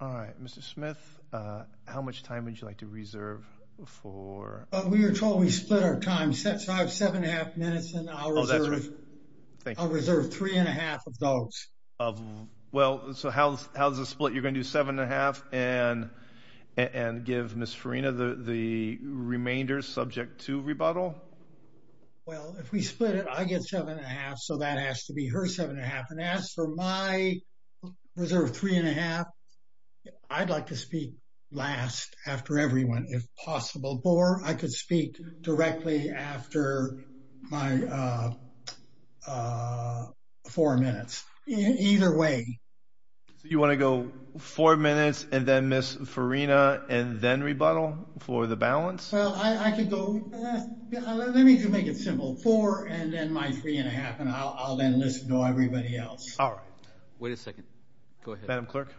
Alright, Mr. Smith, how much time would you like to reserve for? We were told we split our time, so I have seven and a half minutes, and I'll reserve three and a half of those. Well, so how's the split? You're going to do seven and a half and give Ms. Farina the remainder subject to rebuttal? Well, if we split it, I get seven and a half, so that has to be her seven and a half. And as for my reserve three and a half, I'd like to speak last after everyone, if possible. Or I could speak directly after my four minutes. Either way. So you want to go four minutes and then Ms. Farina and then rebuttal for the balance? Well, I could go—let me just make it simple. Four and then my three and a half, and I'll then listen to everybody else. Alright. Wait a second. Go ahead. Madam Clerk?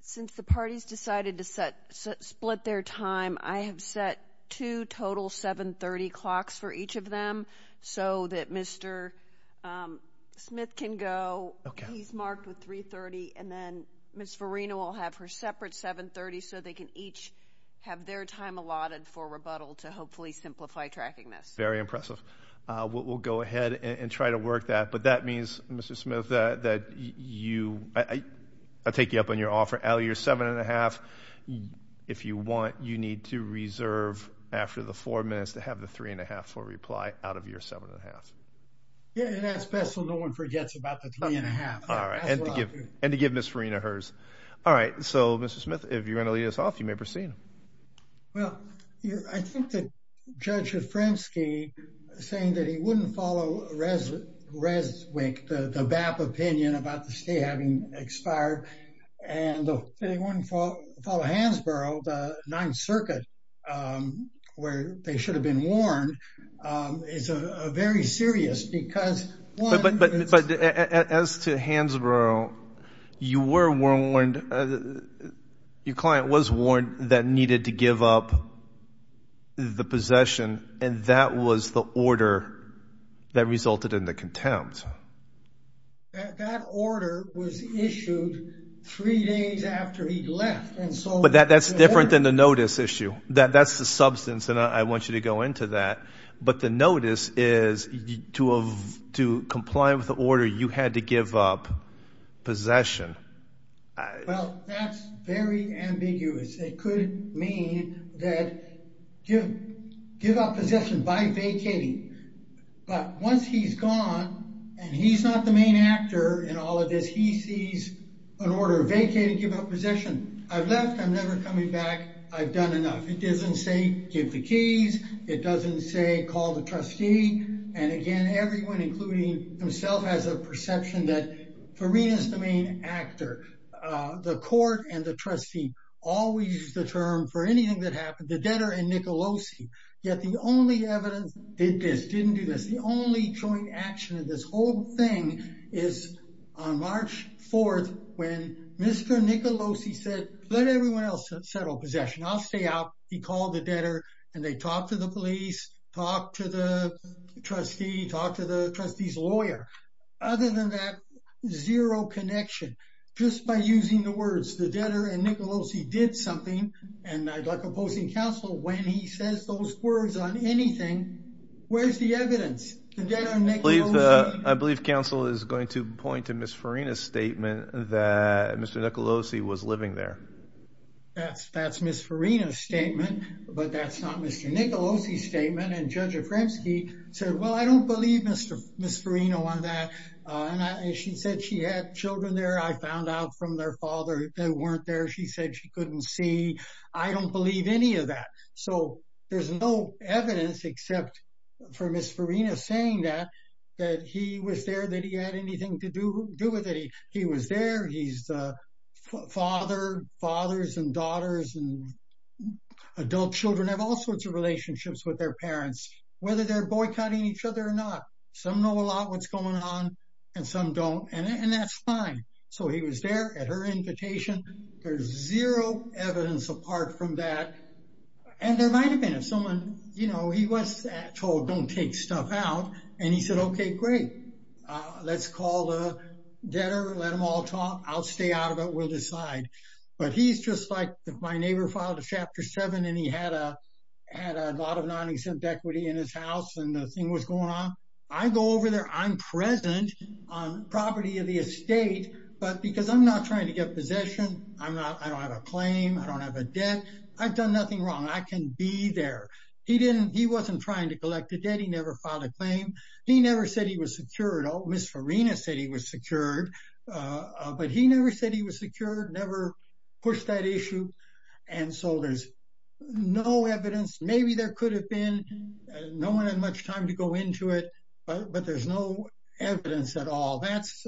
Since the parties decided to split their time, I have set two total 7.30 clocks for each of them, so that Mr. Smith can go, he's marked with 3.30, and then Ms. Farina will have her separate 7.30 so they can each have their time allotted for rebuttal to hopefully simplify tracking this. Very impressive. We'll go ahead and try to work that. But that means, Mr. Smith, that you—I'll take you up on your offer. Out of your seven and a half, if you want, you need to reserve after the four minutes to have the three and a half for reply out of your seven and a half. Yeah, and that's best so no one forgets about the three and a half. Alright. And to give Ms. Farina hers. Alright. So, Mr. Smith, if you're going to lead us off, you may proceed. Well, I think that Judge Ofrensky saying that he wouldn't follow ResWIC, the BAP opinion about the state having expired, and that he wouldn't follow Hansborough, the Ninth Circuit, where they should have been warned, is very serious because— But as to Hansborough, you were warned—your client was warned that needed to give up the possession, and that was the order that resulted in the contempt. That order was issued three days after he left, and so— But that's different than the notice issue. That's the substance, and I want you to go into that. But the notice is to comply with the order, you had to give up possession. Well, that's very ambiguous. It could mean that give up possession by vacating. But once he's gone, and he's not the main actor in all of this, he sees an order vacating, give up possession. I've left. I'm never coming back. I've done enough. It doesn't say give the keys. It doesn't say call the trustee. And again, everyone, including himself, has a perception that Farina's the main actor. The court and the trustee always use the term for anything that happened, the debtor and Nicolosi. Yet the only evidence did this, didn't do this. The only joint action in this whole thing is on March 4th, when Mr. Nicolosi said, let everyone else settle possession. I'll stay out. He called the debtor, and they talked to the police, talked to the trustee, talked to the trustee's lawyer. Other than that, zero connection. Just by using the words, the debtor and Nicolosi did something, and I'd like opposing counsel, when he says those words on anything, where's the evidence? I believe counsel is going to point to Ms. Farina's statement that Mr. Nicolosi was living there. That's Ms. Farina's statement, but that's not Mr. Nicolosi's statement. And Judge Afremsky said, well, I don't believe Ms. Farina on that. She said she had children there. I found out from their father they weren't there. She said she couldn't see. I don't believe any of that. So there's no evidence except for Ms. Farina saying that he was there, that he had anything to do with it. He was there. He's the father. Fathers and daughters and adult children have all sorts of relationships with their parents, whether they're boycotting each other or not. Some know a lot what's going on, and some don't, and that's fine. So he was there at her invitation. There's zero evidence apart from that. And there might have been if someone, you know, he was told don't take stuff out. And he said, okay, great. Let's call the debtor, let them all talk. I'll stay out of it. We'll decide. But he's just like if my neighbor filed a Chapter 7 and he had a lot of non-exempt equity in his house and the thing was going on, I go over there, I'm present on property of the estate, but because I'm not trying to get possession, I don't have a claim, I don't have a debt. I've done nothing wrong. I can be there. He wasn't trying to collect a debt. He never filed a claim. He never said he was secured. Ms. Farina said he was secured, but he never said he was secured, never pushed that issue. And so there's no evidence. Maybe there could have been, no one had much time to go into it, but there's no evidence at all. That's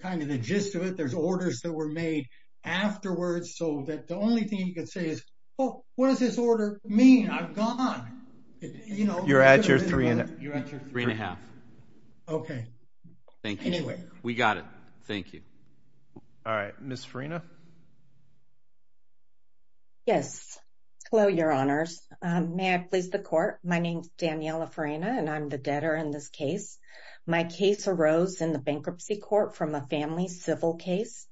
kind of the gist of it. There's orders that were made afterwards so that the only thing you could say is, oh, what does this order mean? I'm gone. You're at your three and a half. Okay. Thank you. We got it. Thank you. All right. Ms. Farina. Yes. Hello, Your Honors. May I please the court? My name is Daniela Farina, and I'm the debtor in this case. My case arose in the bankruptcy court from a family civil case.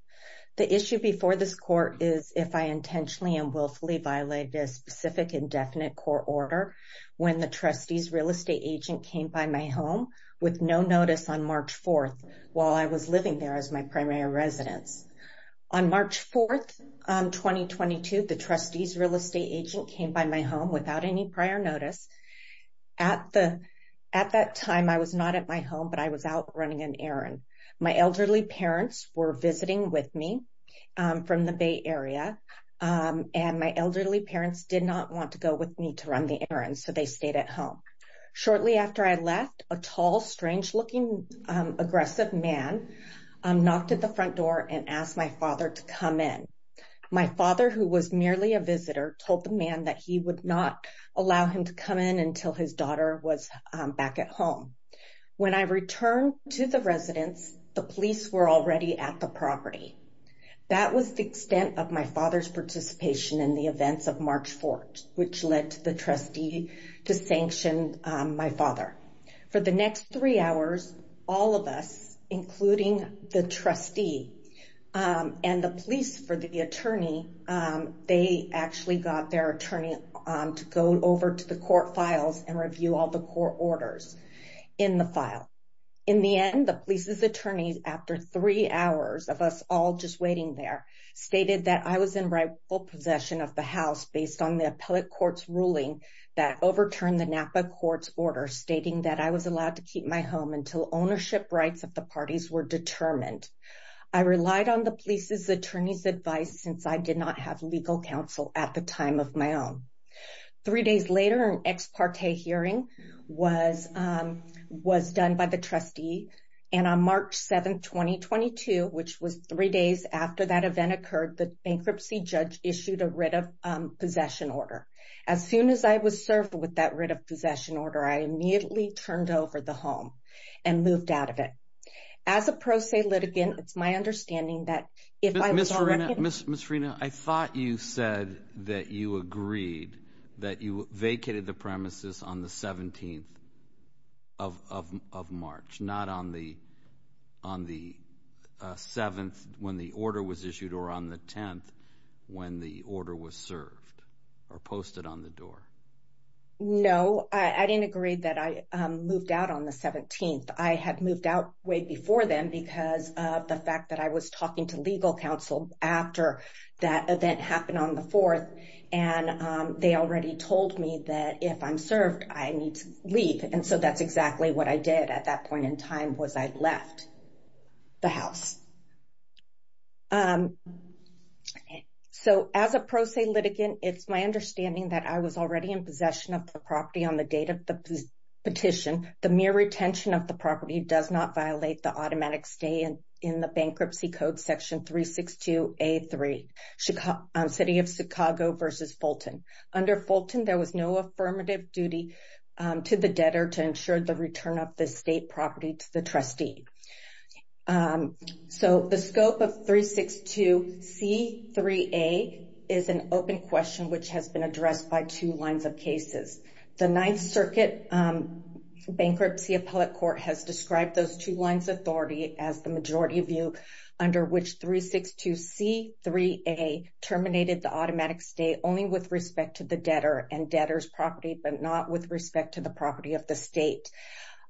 The issue before this court is if I intentionally and willfully violated a specific indefinite court order when the trustee's real estate agent came by my home with no notice on March 4th while I was living there as my primary residence. On March 4th, 2022, the trustee's real estate agent came by my home without any prior notice. At that time, I was not at my home, but I was out running an errand. My elderly parents were visiting with me from the Bay Area, and my elderly parents did not want to go with me to run the errand, so they stayed at home. Shortly after I left, a tall, strange-looking, aggressive man knocked at the front door and asked my father to come in. My father, who was merely a visitor, told the man that he would not allow him to come in until his daughter was back at home. When I returned to the residence, the police were already at the property. That was the extent of my father's participation in the events of March 4th, which led to the trustee to sanction my father. For the next three hours, all of us, including the trustee and the police for the attorney, they actually got their attorney to go over to the court files and review all the court orders in the file. In the end, the police's attorney, after three hours of us all just waiting there, stated that I was in rightful possession of the house based on the appellate court's ruling that overturned the Napa court's order, stating that I was allowed to keep my home until ownership rights of the parties were determined. I relied on the police's attorney's advice since I did not have legal counsel at the time of my own. Three days later, an ex parte hearing was done by the trustee, and on March 7th, 2022, which was three days after that event occurred, the bankruptcy judge issued a writ of possession order. As soon as I was served with that writ of possession order, I immediately turned over the home and moved out of it. As a pro se litigant, it's my understanding that if I was already— Ms. Frena, I thought you said that you agreed that you vacated the premises on the 17th of March, not on the 7th when the order was issued or on the 10th when the order was served or posted on the door. No, I didn't agree that I moved out on the 17th. I had moved out way before then because of the fact that I was talking to legal counsel after that event happened on the 4th, and they already told me that if I'm served, I need to leave. And so that's exactly what I did at that point in time was I left the house. So as a pro se litigant, it's my understanding that I was already in possession of the property on the date of the petition. The mere retention of the property does not violate the automatic stay in the Bankruptcy Code Section 362A3, City of Chicago v. Fulton. Under Fulton, there was no affirmative duty to the debtor to ensure the return of the estate property to the trustee. So the scope of 362C3A is an open question, which has been addressed by two lines of cases. The Ninth Circuit Bankruptcy Appellate Court has described those two lines of authority as the majority view, under which 362C3A terminated the automatic stay only with respect to the debtor and debtor's property, but not with respect to the property of the state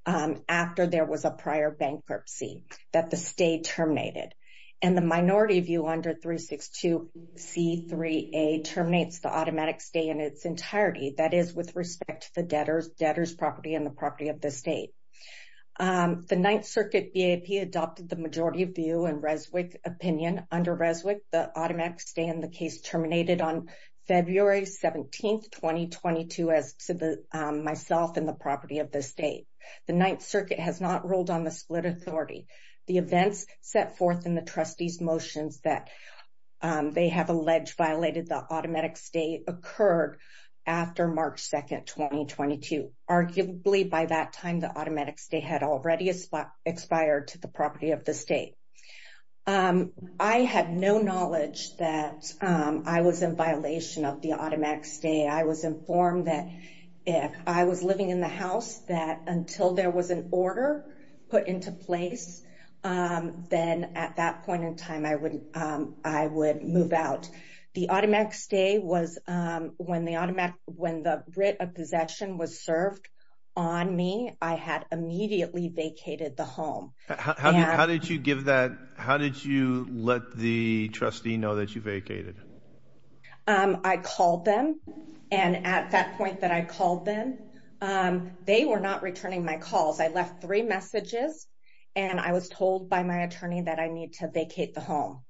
after there was a prior bankruptcy that the state terminated. And the minority view under 362C3A terminates the automatic stay in its entirety, that is, with respect to the debtor's property and the property of the state. The Ninth Circuit BAP adopted the majority view and Reswick opinion under Reswick. The automatic stay in the case terminated on February 17th, 2022, as to myself and the property of the state. The Ninth Circuit has not ruled on the split authority. The events set forth in the trustee's motions that they have alleged violated the automatic stay occurred after March 2nd, 2022. Arguably, by that time, the automatic stay had already expired to the property of the state. I had no knowledge that I was in violation of the automatic stay. I was informed that if I was living in the house, that until there was an order put into place, then at that point in time, I would move out. The automatic stay was when the writ of possession was served on me, I had immediately vacated the home. How did you give that? How did you let the trustee know that you vacated? I called them. And at that point that I called them, they were not returning my calls. I left three messages and I was told by my attorney that I need to vacate the home.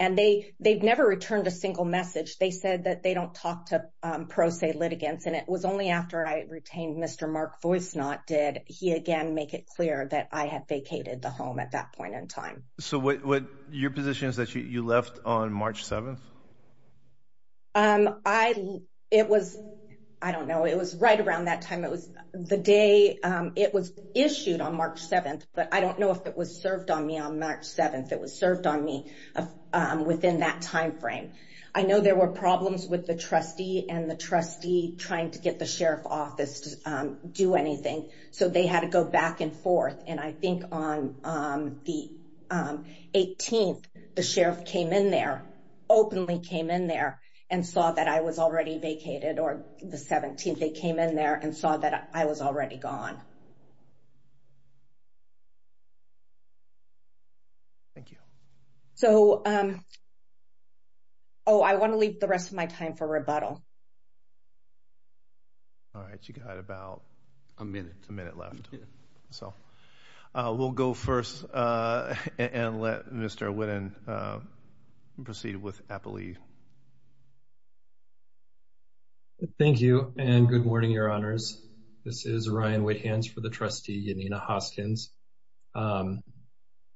And they they've never returned a single message. They said that they don't talk to pro se litigants. And it was only after I retained Mr. Mark Voicenot did he again make it clear that I had vacated the home at that point in time. So what your position is that you left on March 7th? I it was I don't know. It was right around that time. It was the day it was issued on March 7th, but I don't know if it was served on me on March 7th. It was served on me within that time frame. I know there were problems with the trustee and the trustee trying to get the sheriff's office to do anything. So they had to go back and forth. And I think on the 18th, the sheriff came in there, openly came in there and saw that I was already vacated or the 17th. They came in there and saw that I was already gone. Thank you. So. Oh, I want to leave the rest of my time for rebuttal. All right. You got about a minute, a minute left. So we'll go first and let Mr. proceed with happily. Thank you. And good morning, your honors. This is Ryan with hands for the trustee, Janina Hoskins.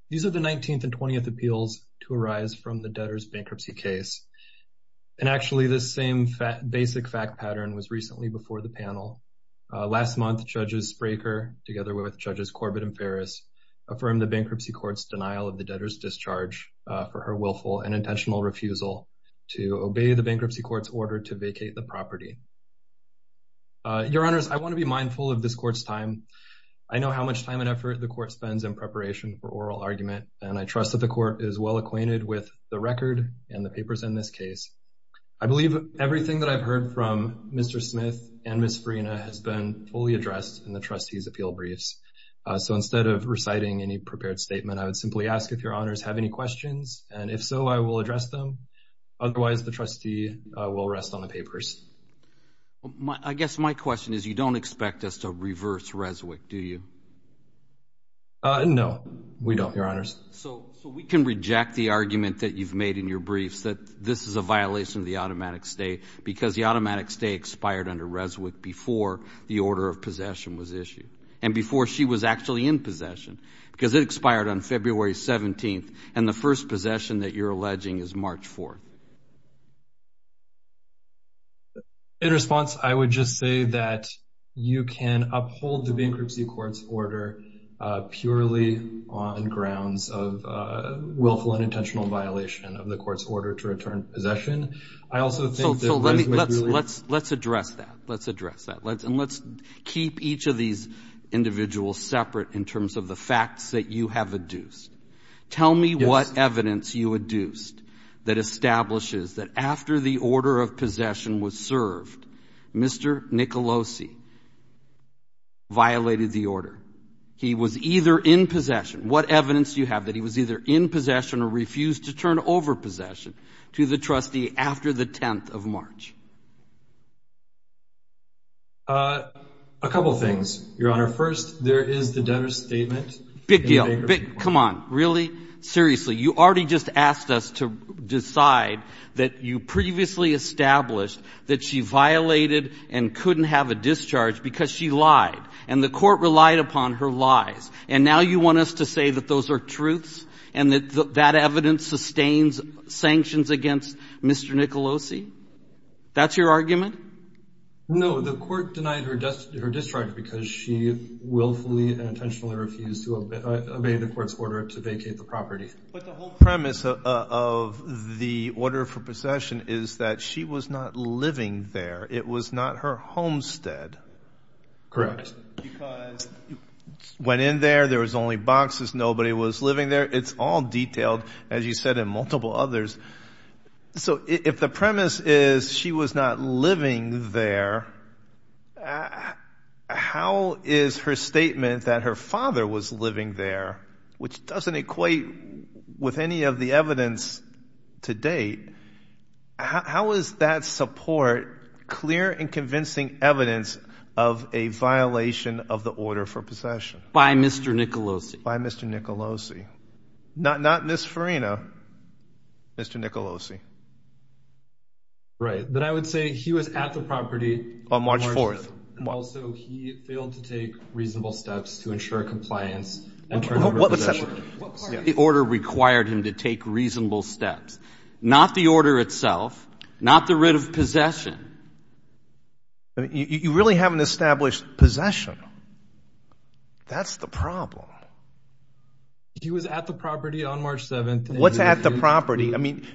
These are the 19th and 20th appeals to arise from the debtors bankruptcy case. And actually, the same fat basic fact pattern was recently before the panel. Last month, judges breaker together with judges Corbett and Ferris affirmed the bankruptcy court's denial of the debtors discharge for her willful and intentional refusal to obey the bankruptcy court's order to vacate the property. Your honors, I want to be mindful of this court's time. I know how much time and effort the court spends in preparation for oral argument, and I trust that the court is well acquainted with the record and the papers in this case. I believe everything that I've heard from Mr. Smith and Miss Farina has been fully addressed in the trustees appeal briefs. So instead of reciting any prepared statement, I would simply ask if your honors have any questions. And if so, I will address them. Otherwise, the trustee will rest on the papers. I guess my question is, you don't expect us to reverse Reswick, do you know? We don't, your honors. So we can reject the argument that you've made in your briefs that this is a violation of the automatic stay because the automatic stay expired under Reswick before the order of possession was issued. And before she was actually in possession because it expired on February 17th. And the first possession that you're alleging is March 4. In response, I would just say that you can uphold the bankruptcy court's order purely on grounds of willful and intentional violation of the court's order to return possession. I also think that let's let's address that. Let's address that. And let's keep each of these individuals separate in terms of the facts that you have adduced. Tell me what evidence you adduced that establishes that after the order of possession was served, Mr. Nicolosi violated the order. He was either in possession. What evidence do you have that he was either in possession or refused to turn over possession to the trustee after the 10th of March? A couple of things, your honor. First, there is the debtor statement. Come on, really? Seriously. You already just asked us to decide that you previously established that she violated and couldn't have a discharge because she lied. And the court relied upon her lies. And now you want us to say that those are truths and that that evidence sustains sanctions against Mr. Nicolosi? That's your argument? No, the court denied her discharge because she willfully and intentionally refused to obey the court's order to vacate the property. But the whole premise of the order for possession is that she was not living there. It was not her homestead. Correct. Because it went in there. There was only boxes. Nobody was living there. It's all detailed, as you said, in multiple others. So if the premise is she was not living there, how is her statement that her father was living there, which doesn't equate with any of the evidence to date, how is that support clear and convincing evidence of a violation of the order for possession? By Mr. Nicolosi. By Mr. Nicolosi. Not Ms. Farina. Mr. Nicolosi. Right. But I would say he was at the property. On March 4th. Also, he failed to take reasonable steps to ensure compliance. What part of the order required him to take reasonable steps? Not the order itself. Not the writ of possession. You really haven't established possession. That's the problem. He was at the property on March 7th. What's at the property? I mean,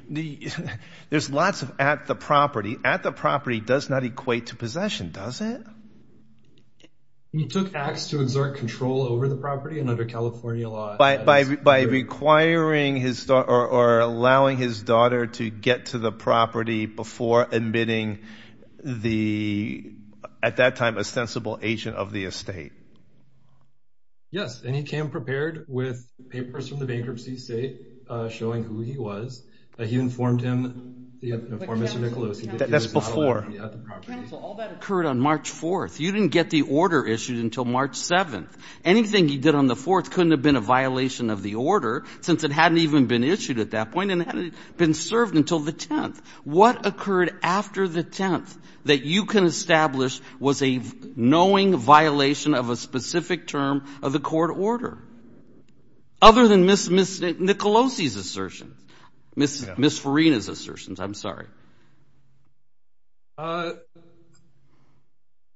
there's lots of at the property. At the property does not equate to possession, does it? He took acts to exert control over the property and under California law. By requiring his daughter or allowing his daughter to get to the property before admitting the, at that time, ostensible agent of the estate. Yes, and he came prepared with papers from the bankruptcy state showing who he was. He informed him, Mr. Nicolosi. That's before. Counsel, all that occurred on March 4th. You didn't get the order issued until March 7th. Anything he did on the 4th couldn't have been a violation of the order since it hadn't even been issued at that point and it hadn't been served until the 10th. What occurred after the 10th that you can establish was a knowing violation of a specific term of the court order? Other than Ms. Nicolosi's assertion, Ms. Farina's assertion, I'm sorry.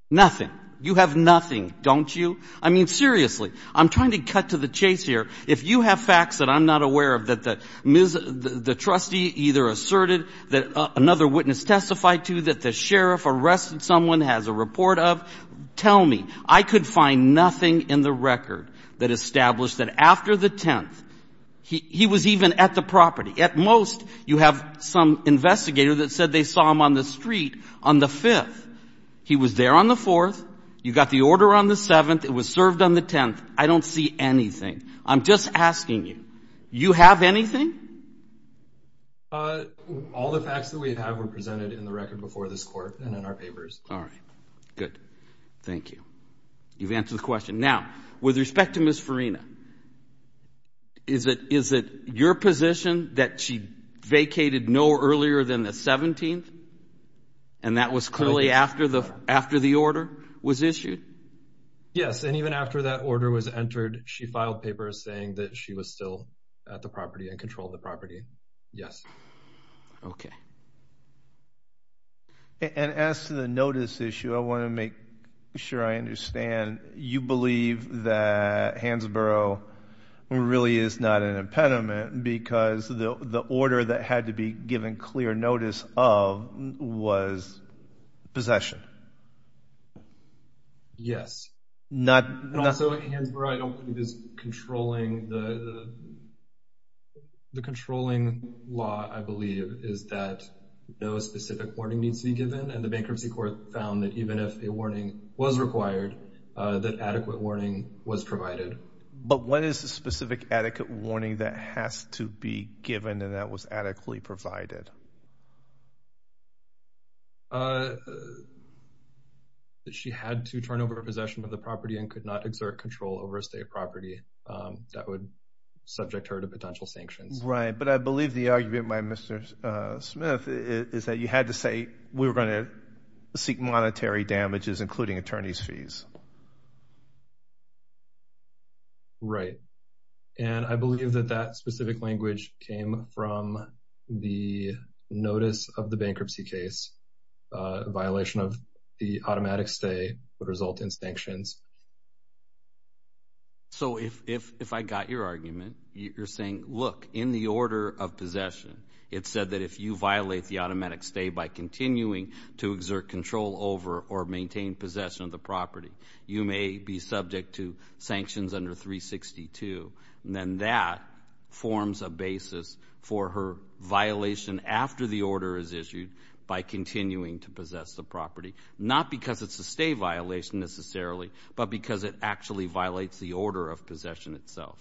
Nothing. You have nothing, don't you? I mean, seriously, I'm trying to cut to the chase here. If you have facts that I'm not aware of that the trustee either asserted that another witness testified to, that the sheriff arrested someone, has a report of, tell me. I could find nothing in the record that established that after the 10th, he was even at the property. At most, you have some investigator that said they saw him on the street on the 5th. He was there on the 4th. You got the order on the 7th. It was served on the 10th. I don't see anything. I'm just asking you. You have anything? All the facts that we have were presented in the record before this court and in our papers. All right. Good. Thank you. You've answered the question. Now, with respect to Ms. Farina, is it your position that she vacated no earlier than the 17th? And that was clearly after the order was issued? Yes. And even after that order was entered, she filed papers saying that she was still at the property and controlled the property. Yes. Okay. And as to the notice issue, I want to make sure I understand. You believe that Hansborough really is not an impediment because the order that had to be given clear notice of was possession? Yes. And also, Hansborough, I don't believe is controlling the controlling law, I believe, is that no specific warning needs to be given. And the bankruptcy court found that even if a warning was required, that adequate warning was provided. But what is the specific adequate warning that has to be given and that was adequately provided? That she had to turn over possession of the property and could not exert control over a state property. That would subject her to potential sanctions. Right. But I believe the argument by Mr. Smith is that you had to say we were going to seek monetary damages, including attorney's fees. Right. And I believe that that specific language came from the notice of the bankruptcy case. A violation of the automatic stay would result in sanctions. So if I got your argument, you're saying, look, in the order of possession, it said that if you violate the automatic stay by continuing to exert control over or maintain possession of the property, you may be subject to sanctions under 362. And then that forms a basis for her violation after the order is issued by continuing to possess the property, not because it's a stay violation necessarily, but because it actually violates the order of possession itself.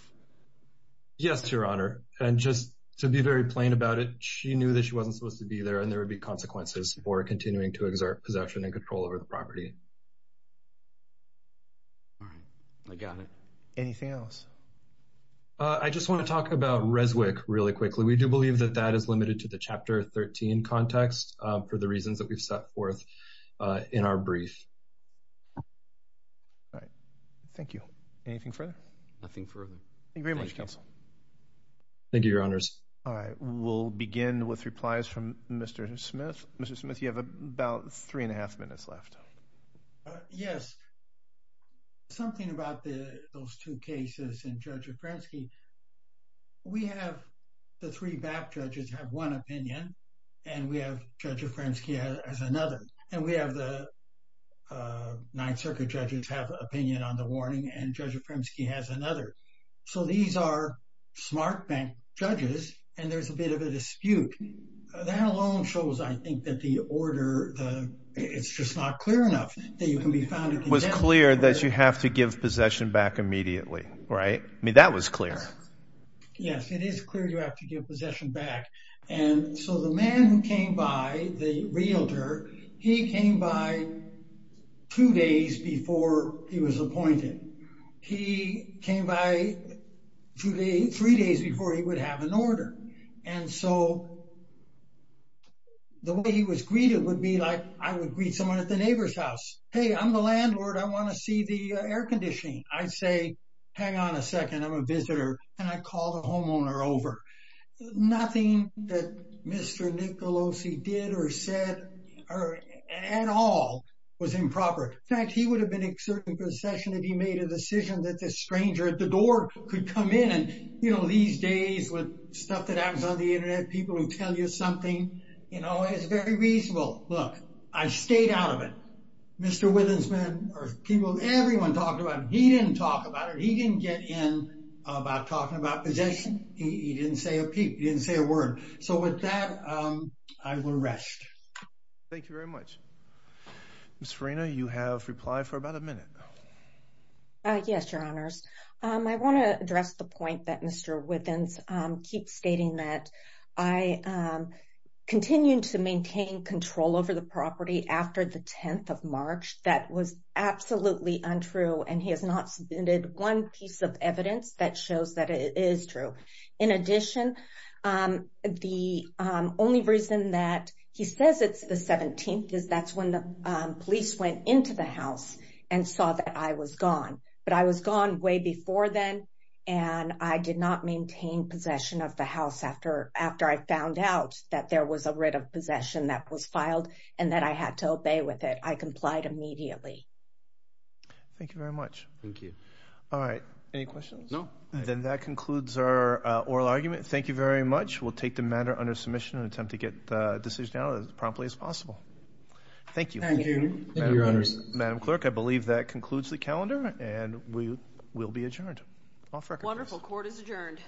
Yes, Your Honor. And just to be very plain about it, she knew that she wasn't supposed to be there and there would be consequences for continuing to exert possession and control over the property. I got it. Anything else? I just want to talk about Reswick really quickly. We do believe that that is limited to the chapter 13 context for the reasons that we've set forth in our brief. All right. Thank you. Anything further? Nothing further. Thank you very much, counsel. Thank you, Your Honors. All right. We'll begin with replies from Mr. Smith. Mr. Smith, you have about three and a half minutes left. Yes. Something about those two cases and Judge Ofrensky, we have the three back judges have one opinion, and we have Judge Ofrensky as another. And we have the Ninth Circuit judges have an opinion on the warning, and Judge Ofrensky has another. So these are smart bank judges, and there's a bit of a dispute. That alone shows, I think, that the order, it's just not clear enough that you can be found in contempt of order. It was clear that you have to give possession back immediately, right? I mean, that was clear. Yes, it is clear you have to give possession back. And so the man who came by, the realtor, he came by two days before he was appointed. And so the way he was greeted would be like I would greet someone at the neighbor's house. Hey, I'm the landlord. I want to see the air conditioning. I'd say, hang on a second. I'm a visitor. Can I call the homeowner over? Nothing that Mr. Nicolosi did or said or at all was improper. In fact, he would have been exerting possession if he made a decision that this stranger at the door could come in. You know, these days with stuff that happens on the Internet, people who tell you something, you know, it's very reasonable. Look, I stayed out of it. Mr. Withensman or people, everyone talked about him. He didn't talk about it. He didn't get in about talking about possession. He didn't say a word. So with that, I will rest. Thank you very much. Ms. Farina, you have replied for about a minute now. Yes, Your Honors. I want to address the point that Mr. Withens keeps stating that I continue to maintain control over the property after the 10th of March. That was absolutely untrue. And he has not submitted one piece of evidence that shows that it is true. In addition, the only reason that he says it's the 17th is that's when the police went into the house and saw that I was gone. But I was gone way before then, and I did not maintain possession of the house after I found out that there was a writ of possession that was filed and that I had to obey with it. I complied immediately. Thank you very much. Thank you. All right. Any questions? No. Then that concludes our oral argument. Thank you very much. We'll take the matter under submission and attempt to get the decision out as promptly as possible. Thank you. Thank you. Thank you, Your Honors. Madam Clerk, I believe that concludes the calendar, and we will be adjourned. Wonderful. Court is adjourned.